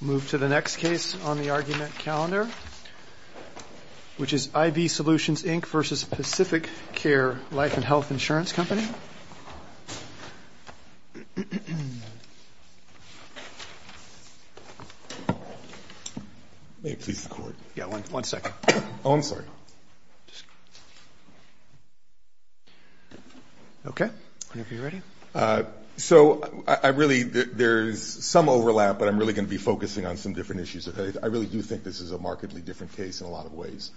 Move to the next case on the argument calendar, which is IV Solutions, Inc. v. Pacificare Life & Health Insurance Company. May it please the Court? Yeah, one second. Oh, I'm sorry. Okay. Whenever you're ready. So there's some overlap, but I'm really going to be focusing on some different issues. I really do think this is a markedly different case in a lot of ways.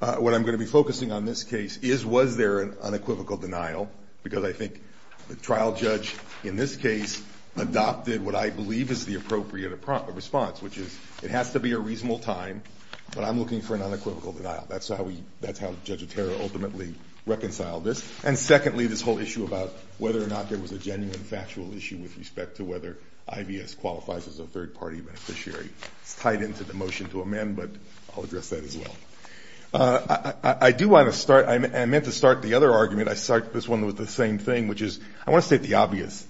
What I'm going to be focusing on in this case is was there an unequivocal denial, because I think the trial judge in this case adopted what I believe is the appropriate response, which is it has to be a reasonable time, but I'm looking for an unequivocal denial. That's how Judge Otero ultimately reconciled this. And secondly, this whole issue about whether or not there was a genuine factual issue with respect to whether IVS qualifies as a third-party beneficiary. It's tied into the motion to amend, but I'll address that as well. I do want to start – I meant to start the other argument. I start this one with the same thing, which is I want to state the obvious.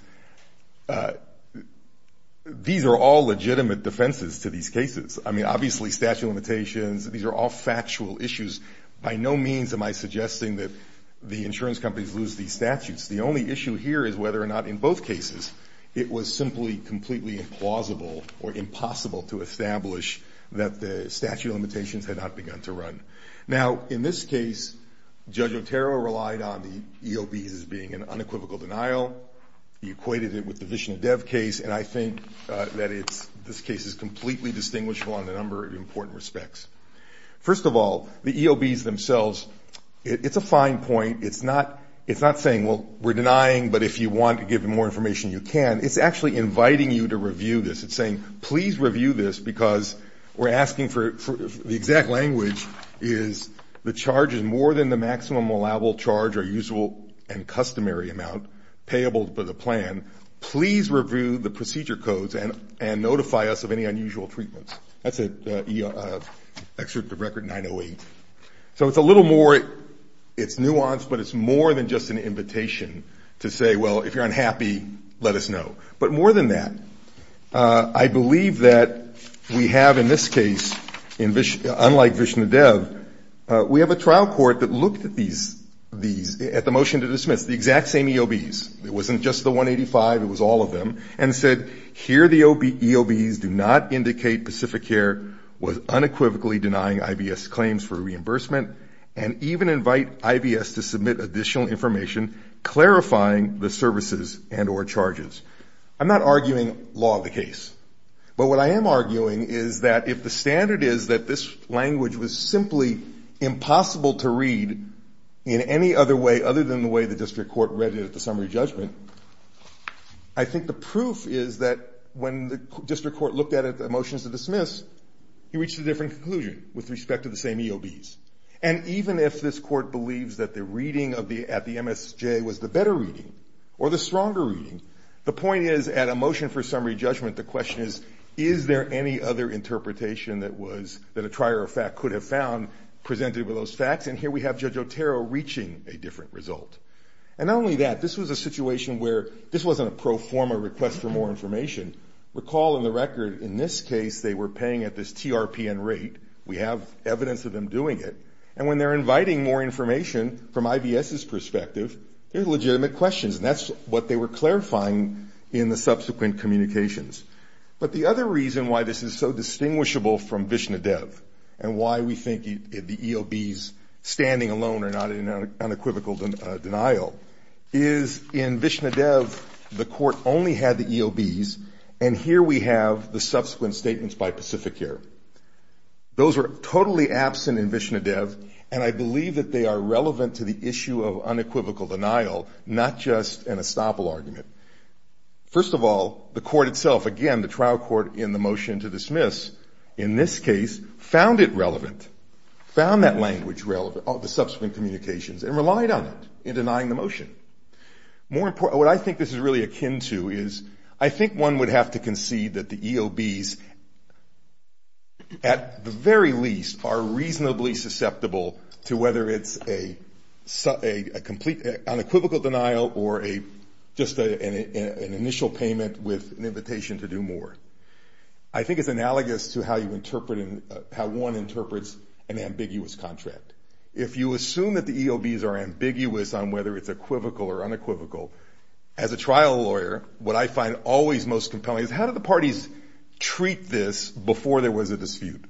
These are all legitimate defenses to these cases. I mean, obviously statute of limitations. These are all factual issues. By no means am I suggesting that the insurance companies lose these statutes. The only issue here is whether or not in both cases it was simply completely implausible or impossible to establish that the statute of limitations had not begun to run. Now, in this case, Judge Otero relied on the EOBs as being an unequivocal denial. He equated it with the Vishnodev case, and I think that this case is completely distinguishable in a number of important respects. First of all, the EOBs themselves, it's a fine point. It's not saying, well, we're denying, but if you want to give more information, you can. It's actually inviting you to review this. It's saying, please review this because we're asking for – the exact language is the charge is more than the maximum allowable charge or usual and customary amount payable for the plan. Please review the procedure codes and notify us of any unusual treatments. That's an excerpt of Record 908. So it's a little more – it's nuanced, but it's more than just an invitation to say, well, if you're unhappy, let us know. But more than that, I believe that we have in this case, unlike Vishnodev, we have a trial court that looked at these – at the motion to dismiss, the exact same EOBs. It wasn't just the 185, it was all of them, and said, here the EOBs do not indicate Pacificare was unequivocally denying IBS claims for reimbursement and even invite IBS to submit additional information clarifying the services and or charges. I'm not arguing law of the case, but what I am arguing is that if the standard is that this language was simply impossible to read in any other way other than the way the district court read it at the summary judgment, I think the proof is that when the district court looked at it at the motions to dismiss, he reached a different conclusion with respect to the same EOBs. And even if this court believes that the reading at the MSJ was the better reading or the stronger reading, the point is at a motion for summary judgment, the question is, is there any other interpretation that was – that a trier of fact could have found presented with those facts? And here we have Judge Otero reaching a different result. And not only that, this was a situation where this wasn't a pro forma request for more information. Recall in the record in this case they were paying at this TRPN rate. We have evidence of them doing it. And when they're inviting more information from IBS's perspective, they're legitimate questions, and that's what they were clarifying in the subsequent communications. But the other reason why this is so distinguishable from Vishnadev and why we think the EOBs standing alone are not in unequivocal denial is in Vishnadev the court only had the EOBs, and here we have the subsequent statements by Pacific Air. Those are totally absent in Vishnadev, and I believe that they are relevant to the issue of unequivocal denial, not just an estoppel argument. First of all, the court itself, again, the trial court in the motion to dismiss, in this case, found it relevant, found that language relevant, the subsequent communications, and relied on it in denying the motion. What I think this is really akin to is I think one would have to concede that the EOBs, at the very least, are reasonably susceptible to whether it's a complete unequivocal denial or just an initial payment with an invitation to do more. I think it's analogous to how one interprets an ambiguous contract. If you assume that the EOBs are ambiguous on whether it's equivocal or unequivocal, as a trial lawyer, what I find always most compelling is how do the parties treat this before there was a dispute?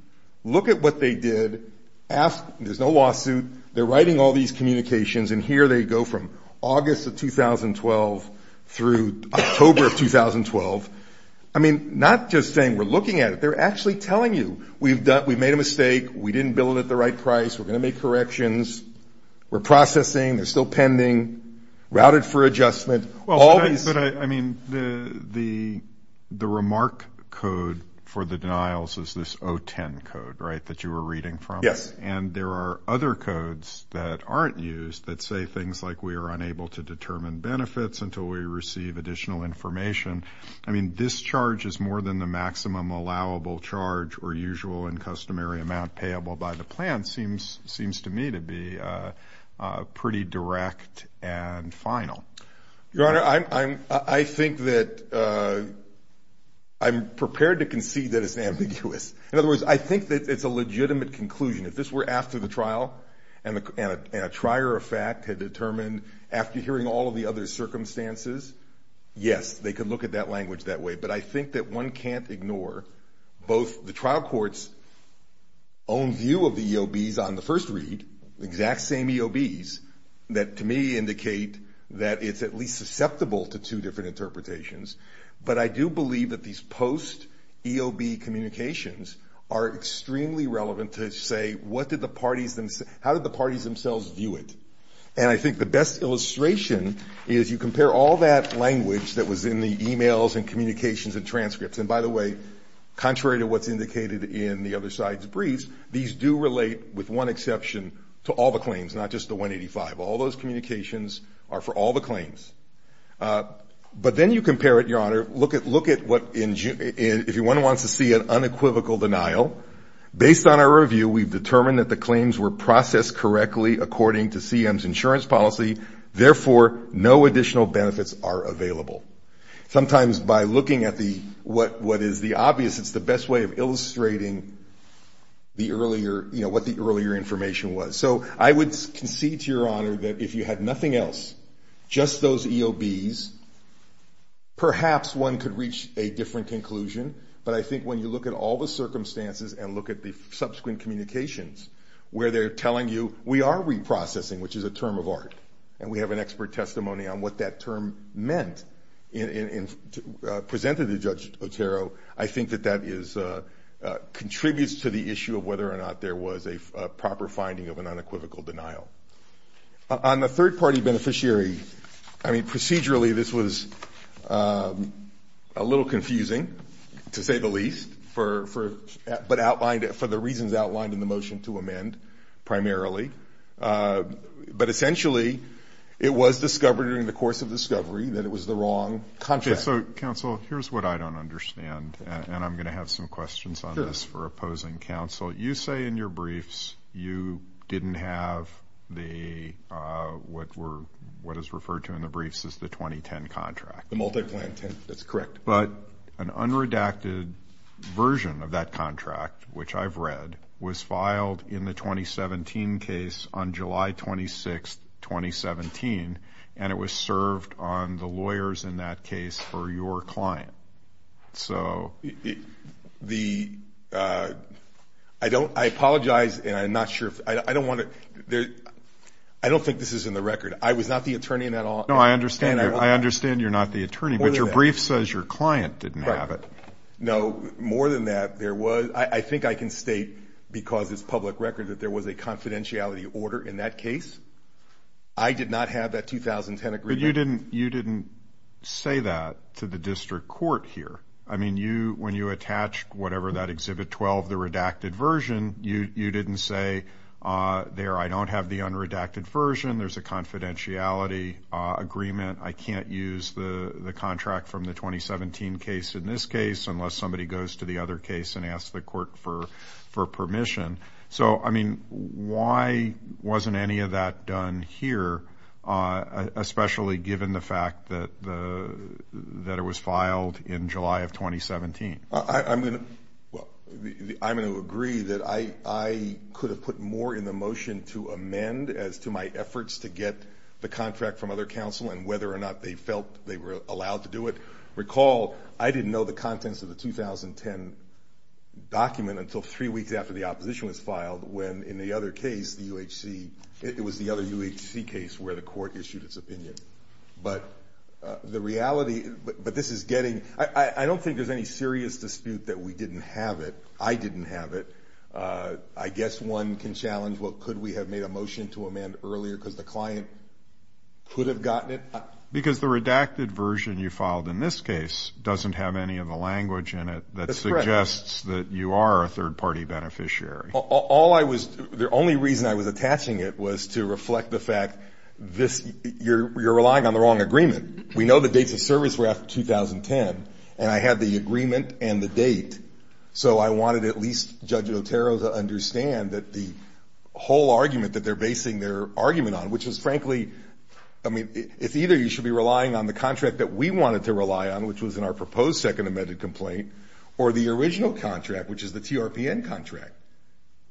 Look at what they did. There's no lawsuit. They're writing all these communications, and here they go from August of 2012 through October of 2012. I mean, not just saying we're looking at it. They're actually telling you we've made a mistake, we didn't bill it at the right price, we're going to make corrections, we're processing, they're still pending, routed for adjustment. I mean, the remark code for the denials is this 010 code, right, that you were reading from. Yes. And there are other codes that aren't used that say things like we are unable to determine benefits until we receive additional information. I mean, this charge is more than the maximum allowable charge or usual and customary amount payable by the plan seems to me to be pretty direct and final. Your Honor, I think that I'm prepared to concede that it's ambiguous. In other words, I think that it's a legitimate conclusion. If this were after the trial and a trier of fact had determined after hearing all of the other circumstances, yes, they could look at that language that way. But I think that one can't ignore both the trial court's own view of the EOBs on the first read, exact same EOBs that to me indicate that it's at least susceptible to two different interpretations. But I do believe that these post-EOB communications are extremely relevant to say what did the parties, how did the parties themselves view it. And I think the best illustration is you compare all that language that was in the e-mails and communications and transcripts. And by the way, contrary to what's indicated in the other side's briefs, these do relate with one exception to all the claims, not just the 185. All those communications are for all the claims. But then you compare it, Your Honor, look at what if one wants to see an unequivocal denial, based on our review we've determined that the claims were processed correctly according to CM's insurance policy, therefore no additional benefits are available. Sometimes by looking at what is the obvious, it's the best way of illustrating the earlier, you know, what the earlier information was. So I would concede to Your Honor that if you had nothing else, just those EOBs, perhaps one could reach a different conclusion. But I think when you look at all the circumstances and look at the subsequent communications, where they're telling you we are reprocessing, which is a term of art, and we have an expert testimony on what that term meant presented to Judge Otero, I think that that contributes to the issue of whether or not there was a proper finding of an unequivocal denial. On the third-party beneficiary, I mean, procedurally this was a little confusing, to say the least, but outlined for the reasons outlined in the motion to amend primarily. But essentially it was discovered during the course of discovery that it was the wrong contract. So, counsel, here's what I don't understand, and I'm going to have some questions on this for opposing counsel. Counsel, you say in your briefs you didn't have what is referred to in the briefs as the 2010 contract. The multi-plan 10, that's correct. But an unredacted version of that contract, which I've read, was filed in the 2017 case on July 26, 2017, and it was served on the lawyers in that case for your client. So the ‑‑ I apologize, and I'm not sure if ‑‑ I don't want to ‑‑ I don't think this is in the record. I was not the attorney in that all. No, I understand. I understand you're not the attorney, but your brief says your client didn't have it. No, more than that, there was ‑‑ I think I can state, because it's public record, that there was a confidentiality order in that case. I did not have that 2010 agreement. But you didn't say that to the district court here. I mean, when you attached whatever that Exhibit 12, the redacted version, you didn't say, there, I don't have the unredacted version, there's a confidentiality agreement, I can't use the contract from the 2017 case in this case unless somebody goes to the other case and asks the court for permission. So, I mean, why wasn't any of that done here, especially given the fact that it was filed in July of 2017? I'm going to ‑‑ well, I'm going to agree that I could have put more in the motion to amend as to my efforts to get the contract from other counsel and whether or not they felt they were allowed to do it. Recall, I didn't know the contents of the 2010 document until three weeks after the opposition was filed when in the other case, the UHC, it was the other UHC case where the court issued its opinion. But the reality ‑‑ but this is getting ‑‑ I don't think there's any serious dispute that we didn't have it. I didn't have it. I guess one can challenge, well, could we have made a motion to amend earlier because the client could have gotten it? Because the redacted version you filed in this case doesn't have any of the language in it that suggests that you are a third party beneficiary. All I was ‑‑ the only reason I was attaching it was to reflect the fact this ‑‑ you're relying on the wrong agreement. We know the dates of service were after 2010, and I had the agreement and the date. So I wanted at least Judge Otero to understand that the whole argument that they're basing their argument on, which is frankly ‑‑ I mean, it's either you should be relying on the contract that we wanted to rely on, which was in our proposed second amended complaint, or the original contract, which is the TRPN contract,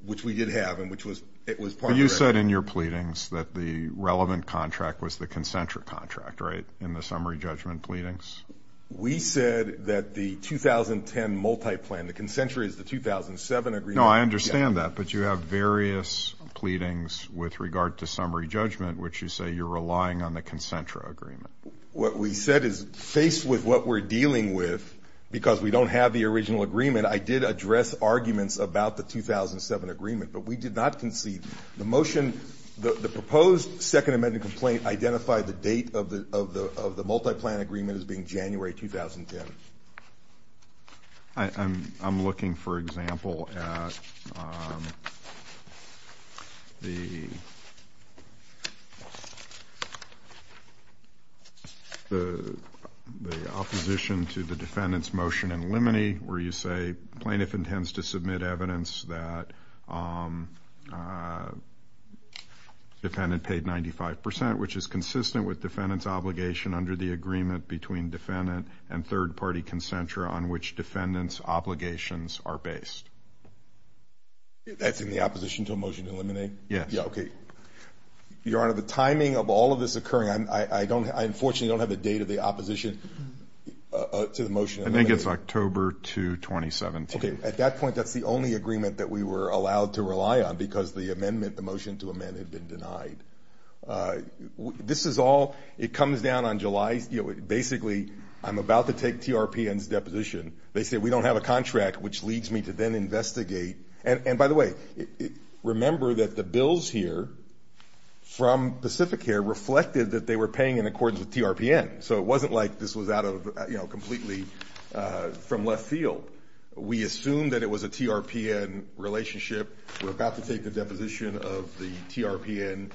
which we did have and which was part of the ‑‑ But you said in your pleadings that the relevant contract was the concentric contract, right, in the summary judgment pleadings? We said that the 2010 multi‑plan, the concentric is the 2007 agreement. No, I understand that, but you have various pleadings with regard to summary judgment, which you say you're relying on the concentric agreement. What we said is, faced with what we're dealing with, because we don't have the original agreement, I did address arguments about the 2007 agreement, but we did not concede. The motion ‑‑ the proposed second amended complaint identified the date of the multi‑plan agreement as being January 2010. I'm looking, for example, at the opposition to the defendant's motion in limine, where you say plaintiff intends to submit evidence that defendant paid 95%, which is consistent with defendant's obligation under the agreement between defendant and third party concentra on which defendant's obligations are based. That's in the opposition to a motion in limine? Yes. Okay. Your Honor, the timing of all of this occurring, I unfortunately don't have the date of the opposition to the motion. I think it's October 2, 2017. Okay. At that point, that's the only agreement that we were allowed to rely on, because the amendment, the motion to amend, had been denied. This is all ‑‑ it comes down on July ‑‑ basically, I'm about to take TRPN's deposition. They say we don't have a contract, which leads me to then investigate. And by the way, remember that the bills here from Pacificare reflected that they were paying in accordance with TRPN. So it wasn't like this was out of, you know, completely from left field. We assumed that it was a TRPN relationship. We're about to take the deposition of the TRPN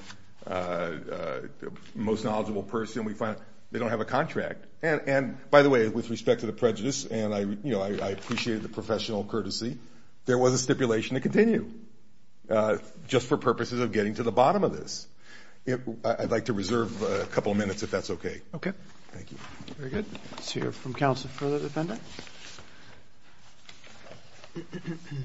most knowledgeable person. We find they don't have a contract. And by the way, with respect to the prejudice, and, you know, I appreciate the professional courtesy, there was a stipulation to continue just for purposes of getting to the bottom of this. I'd like to reserve a couple of minutes if that's okay. Okay. Thank you. Very good. Let's hear from counsel for the defendant. Thank you.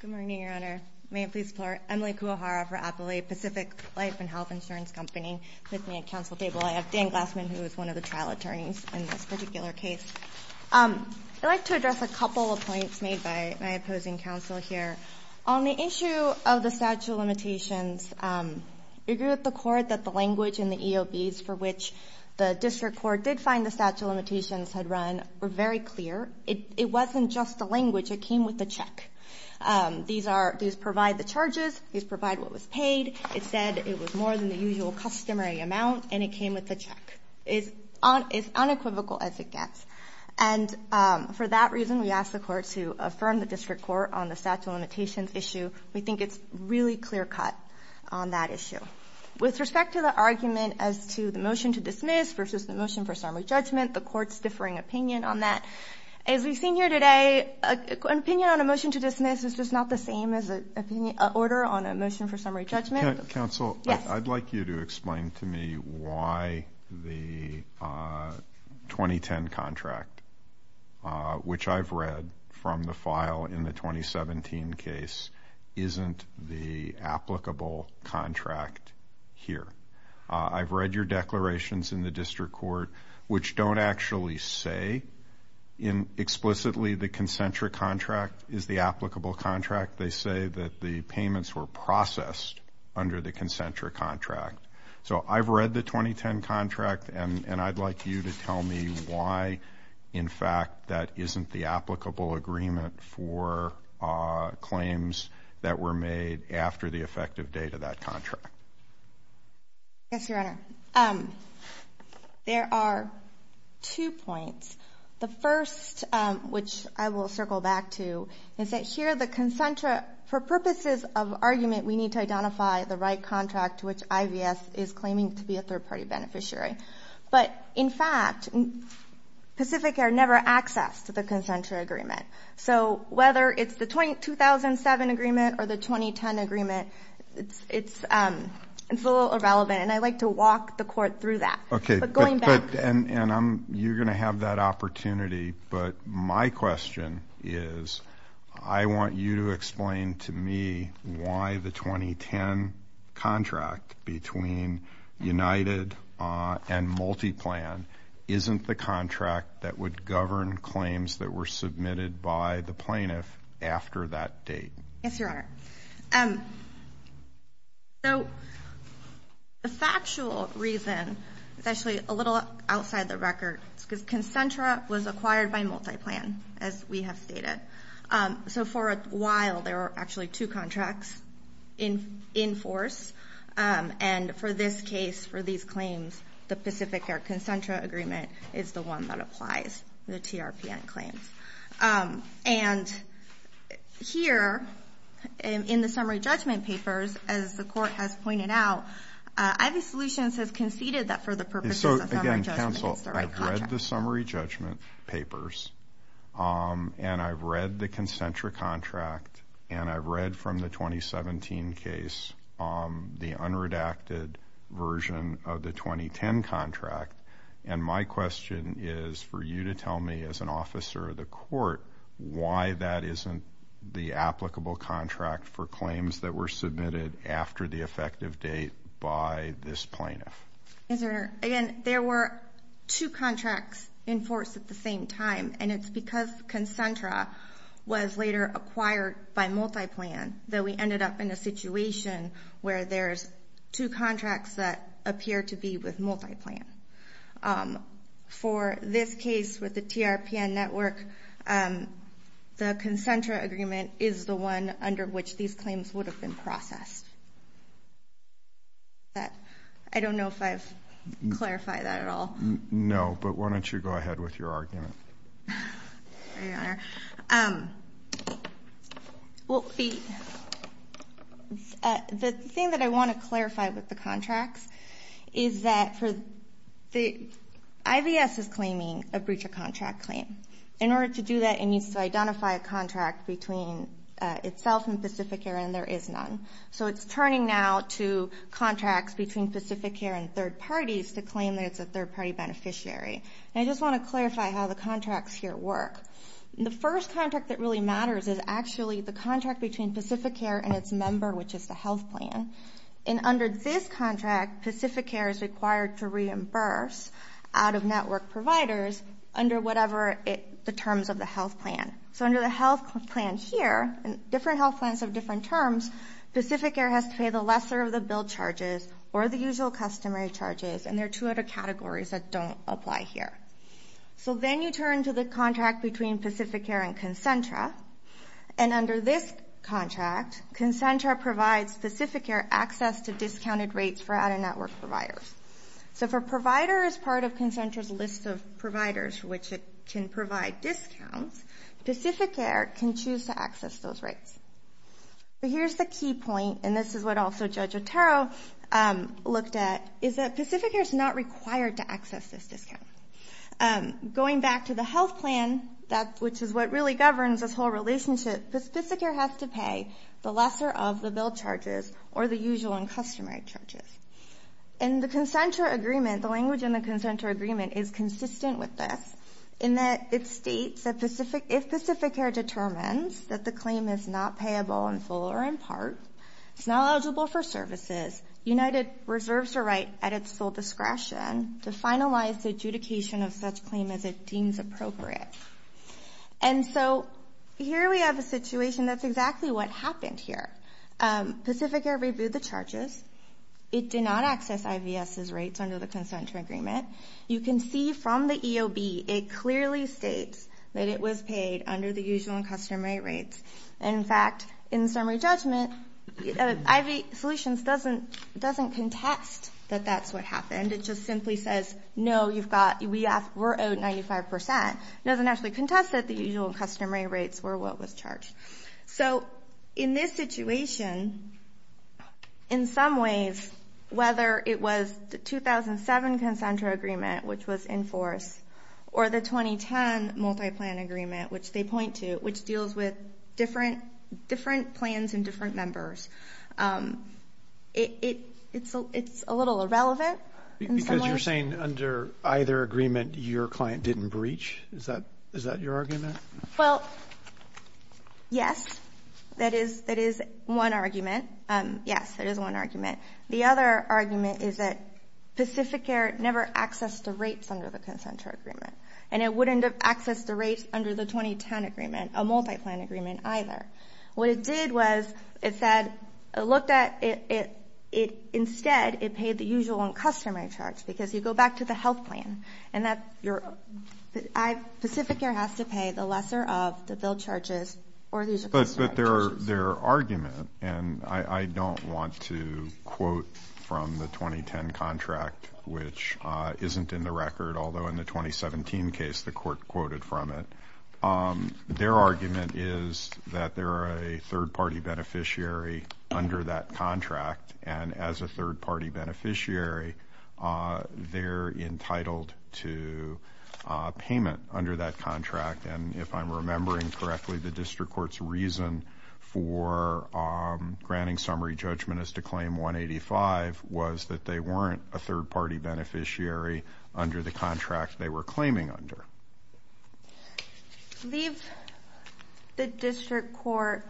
Good morning, Your Honor. May it please the court. Emily Kuwahara for Appalachia Pacific Life and Health Insurance Company with me at counsel table. I have Dan Glassman, who is one of the trial attorneys in this particular case. I'd like to address a couple of points made by my opposing counsel here. On the issue of the statute of limitations, we agree with the court that the language in the EOBs for which the district court did find the statute of limitations had run were very clear. It wasn't just the language. It came with a check. These provide the charges. These provide what was paid. It said it was more than the usual customary amount, and it came with a check. It's unequivocal as it gets. For that reason, we ask the court to affirm the district court on the statute of limitations issue. We think it's a really clear cut on that issue. With respect to the argument as to the motion to dismiss versus the motion for summary judgment, the court's differing opinion on that. As we've seen here today, an opinion on a motion to dismiss is just not the same as an order on a motion for summary judgment. Counsel, I'd like you to explain to me why the 2010 contract, which I've read from the file in the 2017 case, isn't the applicable contract here. I've read your declarations in the district court, which don't actually say explicitly the concentric contract is the applicable contract. They say that the payments were processed under the concentric contract. So I've read the 2010 contract, and I'd like you to tell me why, in fact, that isn't the applicable agreement for claims that were made after the effective date of that contract. Yes, Your Honor. There are two points. The first, which I will circle back to, is that here, for purposes of argument, we need to identify the right contract to which IVS is claiming to be a third-party beneficiary. But, in fact, Pacific Air never accessed the concentric agreement. So whether it's the 2007 agreement or the 2010 agreement, it's a little irrelevant, and I'd like to walk the court through that. Okay, and you're going to have that opportunity, but my question is I want you to explain to me why the 2010 contract between United and Multiplan isn't the contract that would govern claims that were submitted by the plaintiff after that date. Yes, Your Honor. So the factual reason is actually a little outside the record, because Concentra was acquired by Multiplan, as we have stated. So for a while, there were actually two contracts in force, and for this case, for these claims, the Pacific Air Concentra agreement is the one that applies the TRPN claims. And here, in the summary judgment papers, as the court has pointed out, IV Solutions has conceded that for the purposes of summary judgment, it's the right contract. So, again, counsel, I've read the summary judgment papers, and I've read the Concentra contract, and I've read from the 2017 case the unredacted version of the 2010 contract, and my question is for you to tell me, as an officer of the court, why that isn't the applicable contract for claims that were submitted after the effective date by this plaintiff. Yes, Your Honor. Again, there were two contracts in force at the same time, and it's because Concentra was later acquired by Multiplan, that we ended up in a situation where there's two contracts that appear to be with Multiplan. For this case, with the TRPN network, the Concentra agreement is the one under which these claims would have been processed. I don't know if I've clarified that at all. No, but why don't you go ahead with your argument. Sorry, Your Honor. The thing that I want to clarify with the contracts is that IVS is claiming a breach of contract claim. In order to do that, it needs to identify a contract between itself and Pacific Air, and there is none. So it's turning now to contracts between Pacific Air and third parties to claim that it's a third-party beneficiary. I just want to clarify how the contracts here work. The first contract that really matters is actually the contract between Pacific Air and its member, which is the health plan. Under this contract, Pacific Air is required to reimburse out-of-network providers under whatever the terms of the health plan. So under the health plan here, different health plans have different terms. Pacific Air has to pay the lesser of the bill charges or the usual customary charges, and there are two other categories that don't apply here. So then you turn to the contract between Pacific Air and Concentra, and under this contract, Concentra provides Pacific Air access to discounted rates for out-of-network providers. So if a provider is part of Concentra's list of providers for which it can provide discounts, Pacific Air can choose to access those rates. Here's the key point, and this is what also Judge Otero looked at, is that Pacific Air is not required to access this discount. Going back to the health plan, which is what really governs this whole relationship, Pacific Air has to pay the lesser of the bill charges or the usual and customary charges. In the Concentra agreement, the language in the Concentra agreement is consistent with this, in that it states that if Pacific Air determines that the claim is not payable in full or in part, it's not eligible for services, United reserves the right at its full discretion to finalize the adjudication of such claim as it deems appropriate. And so here we have a situation that's exactly what happened here. Pacific Air reviewed the charges. It did not access IVS's rates under the Concentra agreement. You can see from the EOB it clearly states that it was paid under the usual and customary rates. In fact, in summary judgment, IV Solutions doesn't contest that that's what happened. It just simply says, no, we're owed 95%. It doesn't actually contest that the usual and customary rates were what was charged. So in this situation, in some ways, whether it was the 2007 Concentra agreement, which was in force, or the 2010 multi-plan agreement, which they point to, which deals with different plans and different members, it's a little irrelevant. Because you're saying under either agreement your client didn't breach? Is that your argument? Well, yes, that is one argument. Yes, that is one argument. The other argument is that Pacific Air never accessed the rates under the Concentra agreement, and it wouldn't have accessed the rates under the 2010 agreement, a multi-plan agreement, either. What it did was it said it looked at it instead it paid the usual and customary charge, because you go back to the health plan. And Pacific Air has to pay the lesser of the bill charges or the usual charges. But their argument, and I don't want to quote from the 2010 contract, which isn't in the record, although in the 2017 case the court quoted from it, their argument is that they're a third-party beneficiary under that contract, and as a third-party beneficiary they're entitled to payment under that contract. And if I'm remembering correctly, the district court's reason for granting summary judgment as to claim 185 was that they weren't a third-party beneficiary under the contract they were claiming under. I believe the district court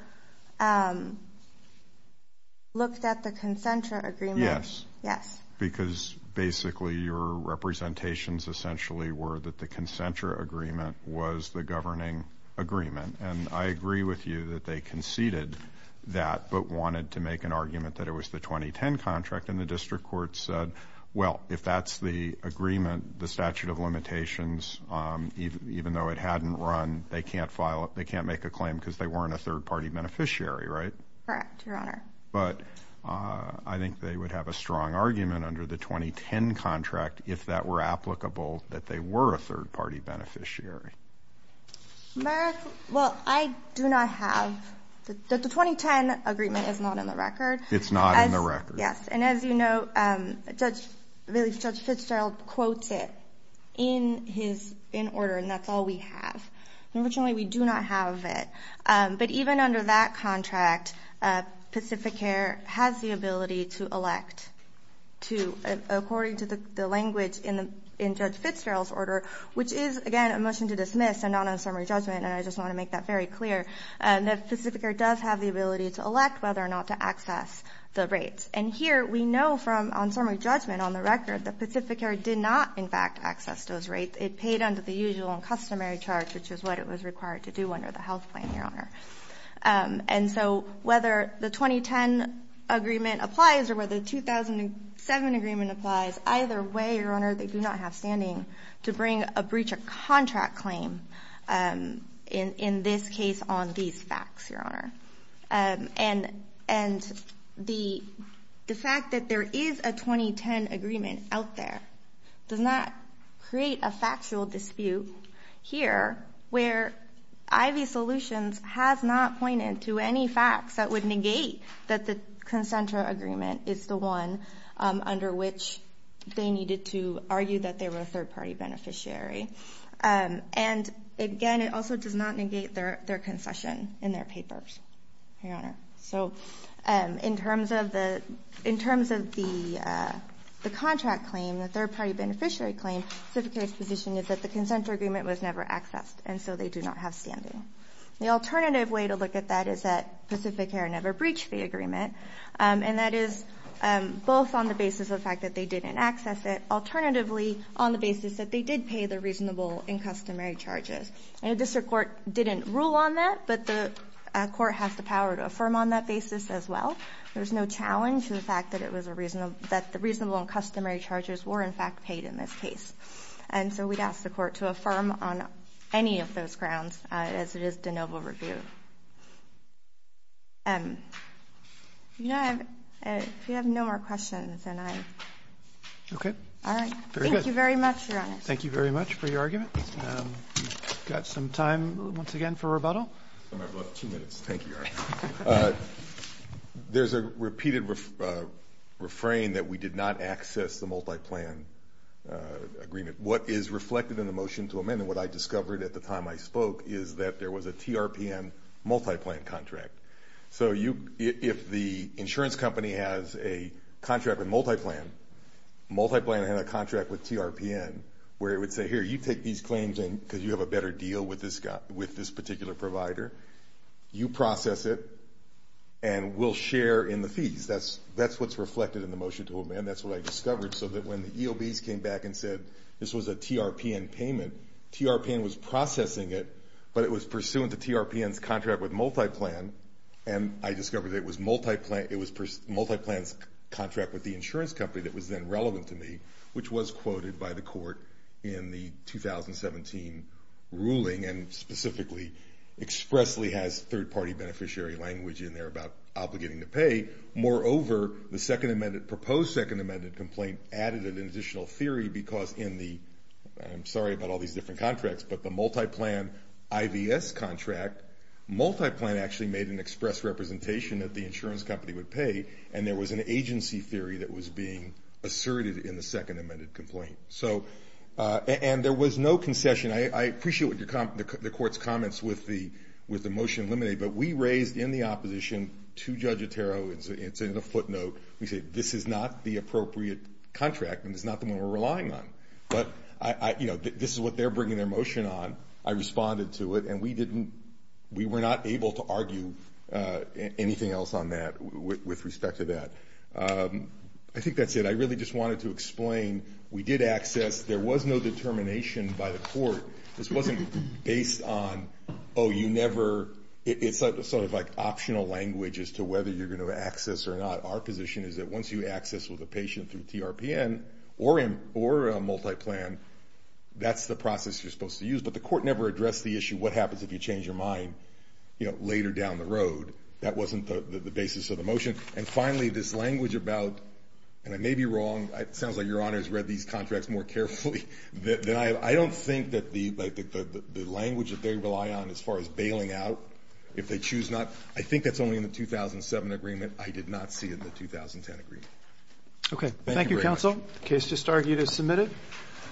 looked at the Concentra agreement. Yes. Yes. Because basically your representations essentially were that the Concentra agreement was the governing agreement. And I agree with you that they conceded that, but wanted to make an argument that it was the 2010 contract, and the district court said, well, if that's the agreement, the statute of limitations, even though it hadn't run, they can't make a claim because they weren't a third-party beneficiary, right? Correct, Your Honor. But I think they would have a strong argument under the 2010 contract if that were applicable that they were a third-party beneficiary. Well, I do not have the 2010 agreement is not in the record. It's not in the record. Yes, and as you know, Judge Fitzgerald quotes it in his order, and that's all we have. Unfortunately, we do not have it. But even under that contract, Pacificare has the ability to elect to, according to the language in Judge Fitzgerald's order, which is, again, a motion to dismiss and not on summary judgment, and I just want to make that very clear, that Pacificare does have the ability to elect whether or not to access the rates. And here we know from on summary judgment on the record that Pacificare did not, in fact, access those rates. It paid under the usual and customary charge, which is what it was required to do under the health plan, Your Honor. And so whether the 2010 agreement applies or whether the 2007 agreement applies, either way, Your Honor, they do not have standing to bring a breach of contract claim in this case on these facts, Your Honor. And the fact that there is a 2010 agreement out there does not create a factual dispute here where Ivy Solutions has not pointed to any facts that would negate that the concentra agreement is the one under which they needed to argue that they were a third-party beneficiary. And, again, it also does not negate their concession in their papers, Your Honor. So in terms of the contract claim, the third-party beneficiary claim, Pacificare's position is that the concentra agreement was never accessed, and so they do not have standing. The alternative way to look at that is that Pacificare never breached the agreement, and that is both on the basis of the fact that they didn't access it, and alternatively, on the basis that they did pay the reasonable and customary charges. And the district court didn't rule on that, but the court has the power to affirm on that basis as well. There's no challenge to the fact that the reasonable and customary charges were, in fact, paid in this case. And so we'd ask the court to affirm on any of those grounds, as it is de novo review. You know, if you have no more questions, then I... Okay. All right. Thank you very much, Your Honor. Thank you very much for your argument. We've got some time, once again, for rebuttal. I've got two minutes. Thank you, Your Honor. There's a repeated refrain that we did not access the multi-plan agreement. What is reflected in the motion to amend, and what I discovered at the time I spoke, is that there was a TRPN multi-plan contract. So if the insurance company has a contract with multi-plan, multi-plan had a contract with TRPN, where it would say, here, you take these claims because you have a better deal with this particular provider. You process it, and we'll share in the fees. That's what's reflected in the motion to amend. That's what I discovered, so that when the EOBs came back and said this was a TRPN payment, TRPN was processing it, but it was pursuant to TRPN's contract with multi-plan, and I discovered that it was multi-plan's contract with the insurance company that was then relevant to me, which was quoted by the court in the 2017 ruling, and specifically expressly has third-party beneficiary language in there about obligating to pay. Moreover, the second amended, proposed second amended complaint added an additional theory because in the, I'm sorry about all these different contracts, but the multi-plan IVS contract, multi-plan actually made an express representation that the insurance company would pay, and there was an agency theory that was being asserted in the second amended complaint. So, and there was no concession. I appreciate the court's comments with the motion eliminated, but we raised in the opposition to Judge Otero, it's in the footnote, we said this is not the appropriate contract, and it's not the one we're relying on. But, you know, this is what they're bringing their motion on. I responded to it, and we didn't, we were not able to argue anything else on that with respect to that. I think that's it. I really just wanted to explain we did access, there was no determination by the court. This wasn't based on, oh, you never, it's sort of like optional language as to whether you're going to access or not. Our position is that once you access with a patient through TRPN or a multi-plan, that's the process you're supposed to use. But the court never addressed the issue what happens if you change your mind, you know, later down the road. That wasn't the basis of the motion. And finally, this language about, and I may be wrong, it sounds like Your Honor has read these contracts more carefully, but I don't think that the language that they rely on as far as bailing out, if they choose not, I think that's only in the 2007 agreement. I did not see it in the 2010 agreement. Okay. Thank you very much. Thank you, counsel. The case just argued is submitted.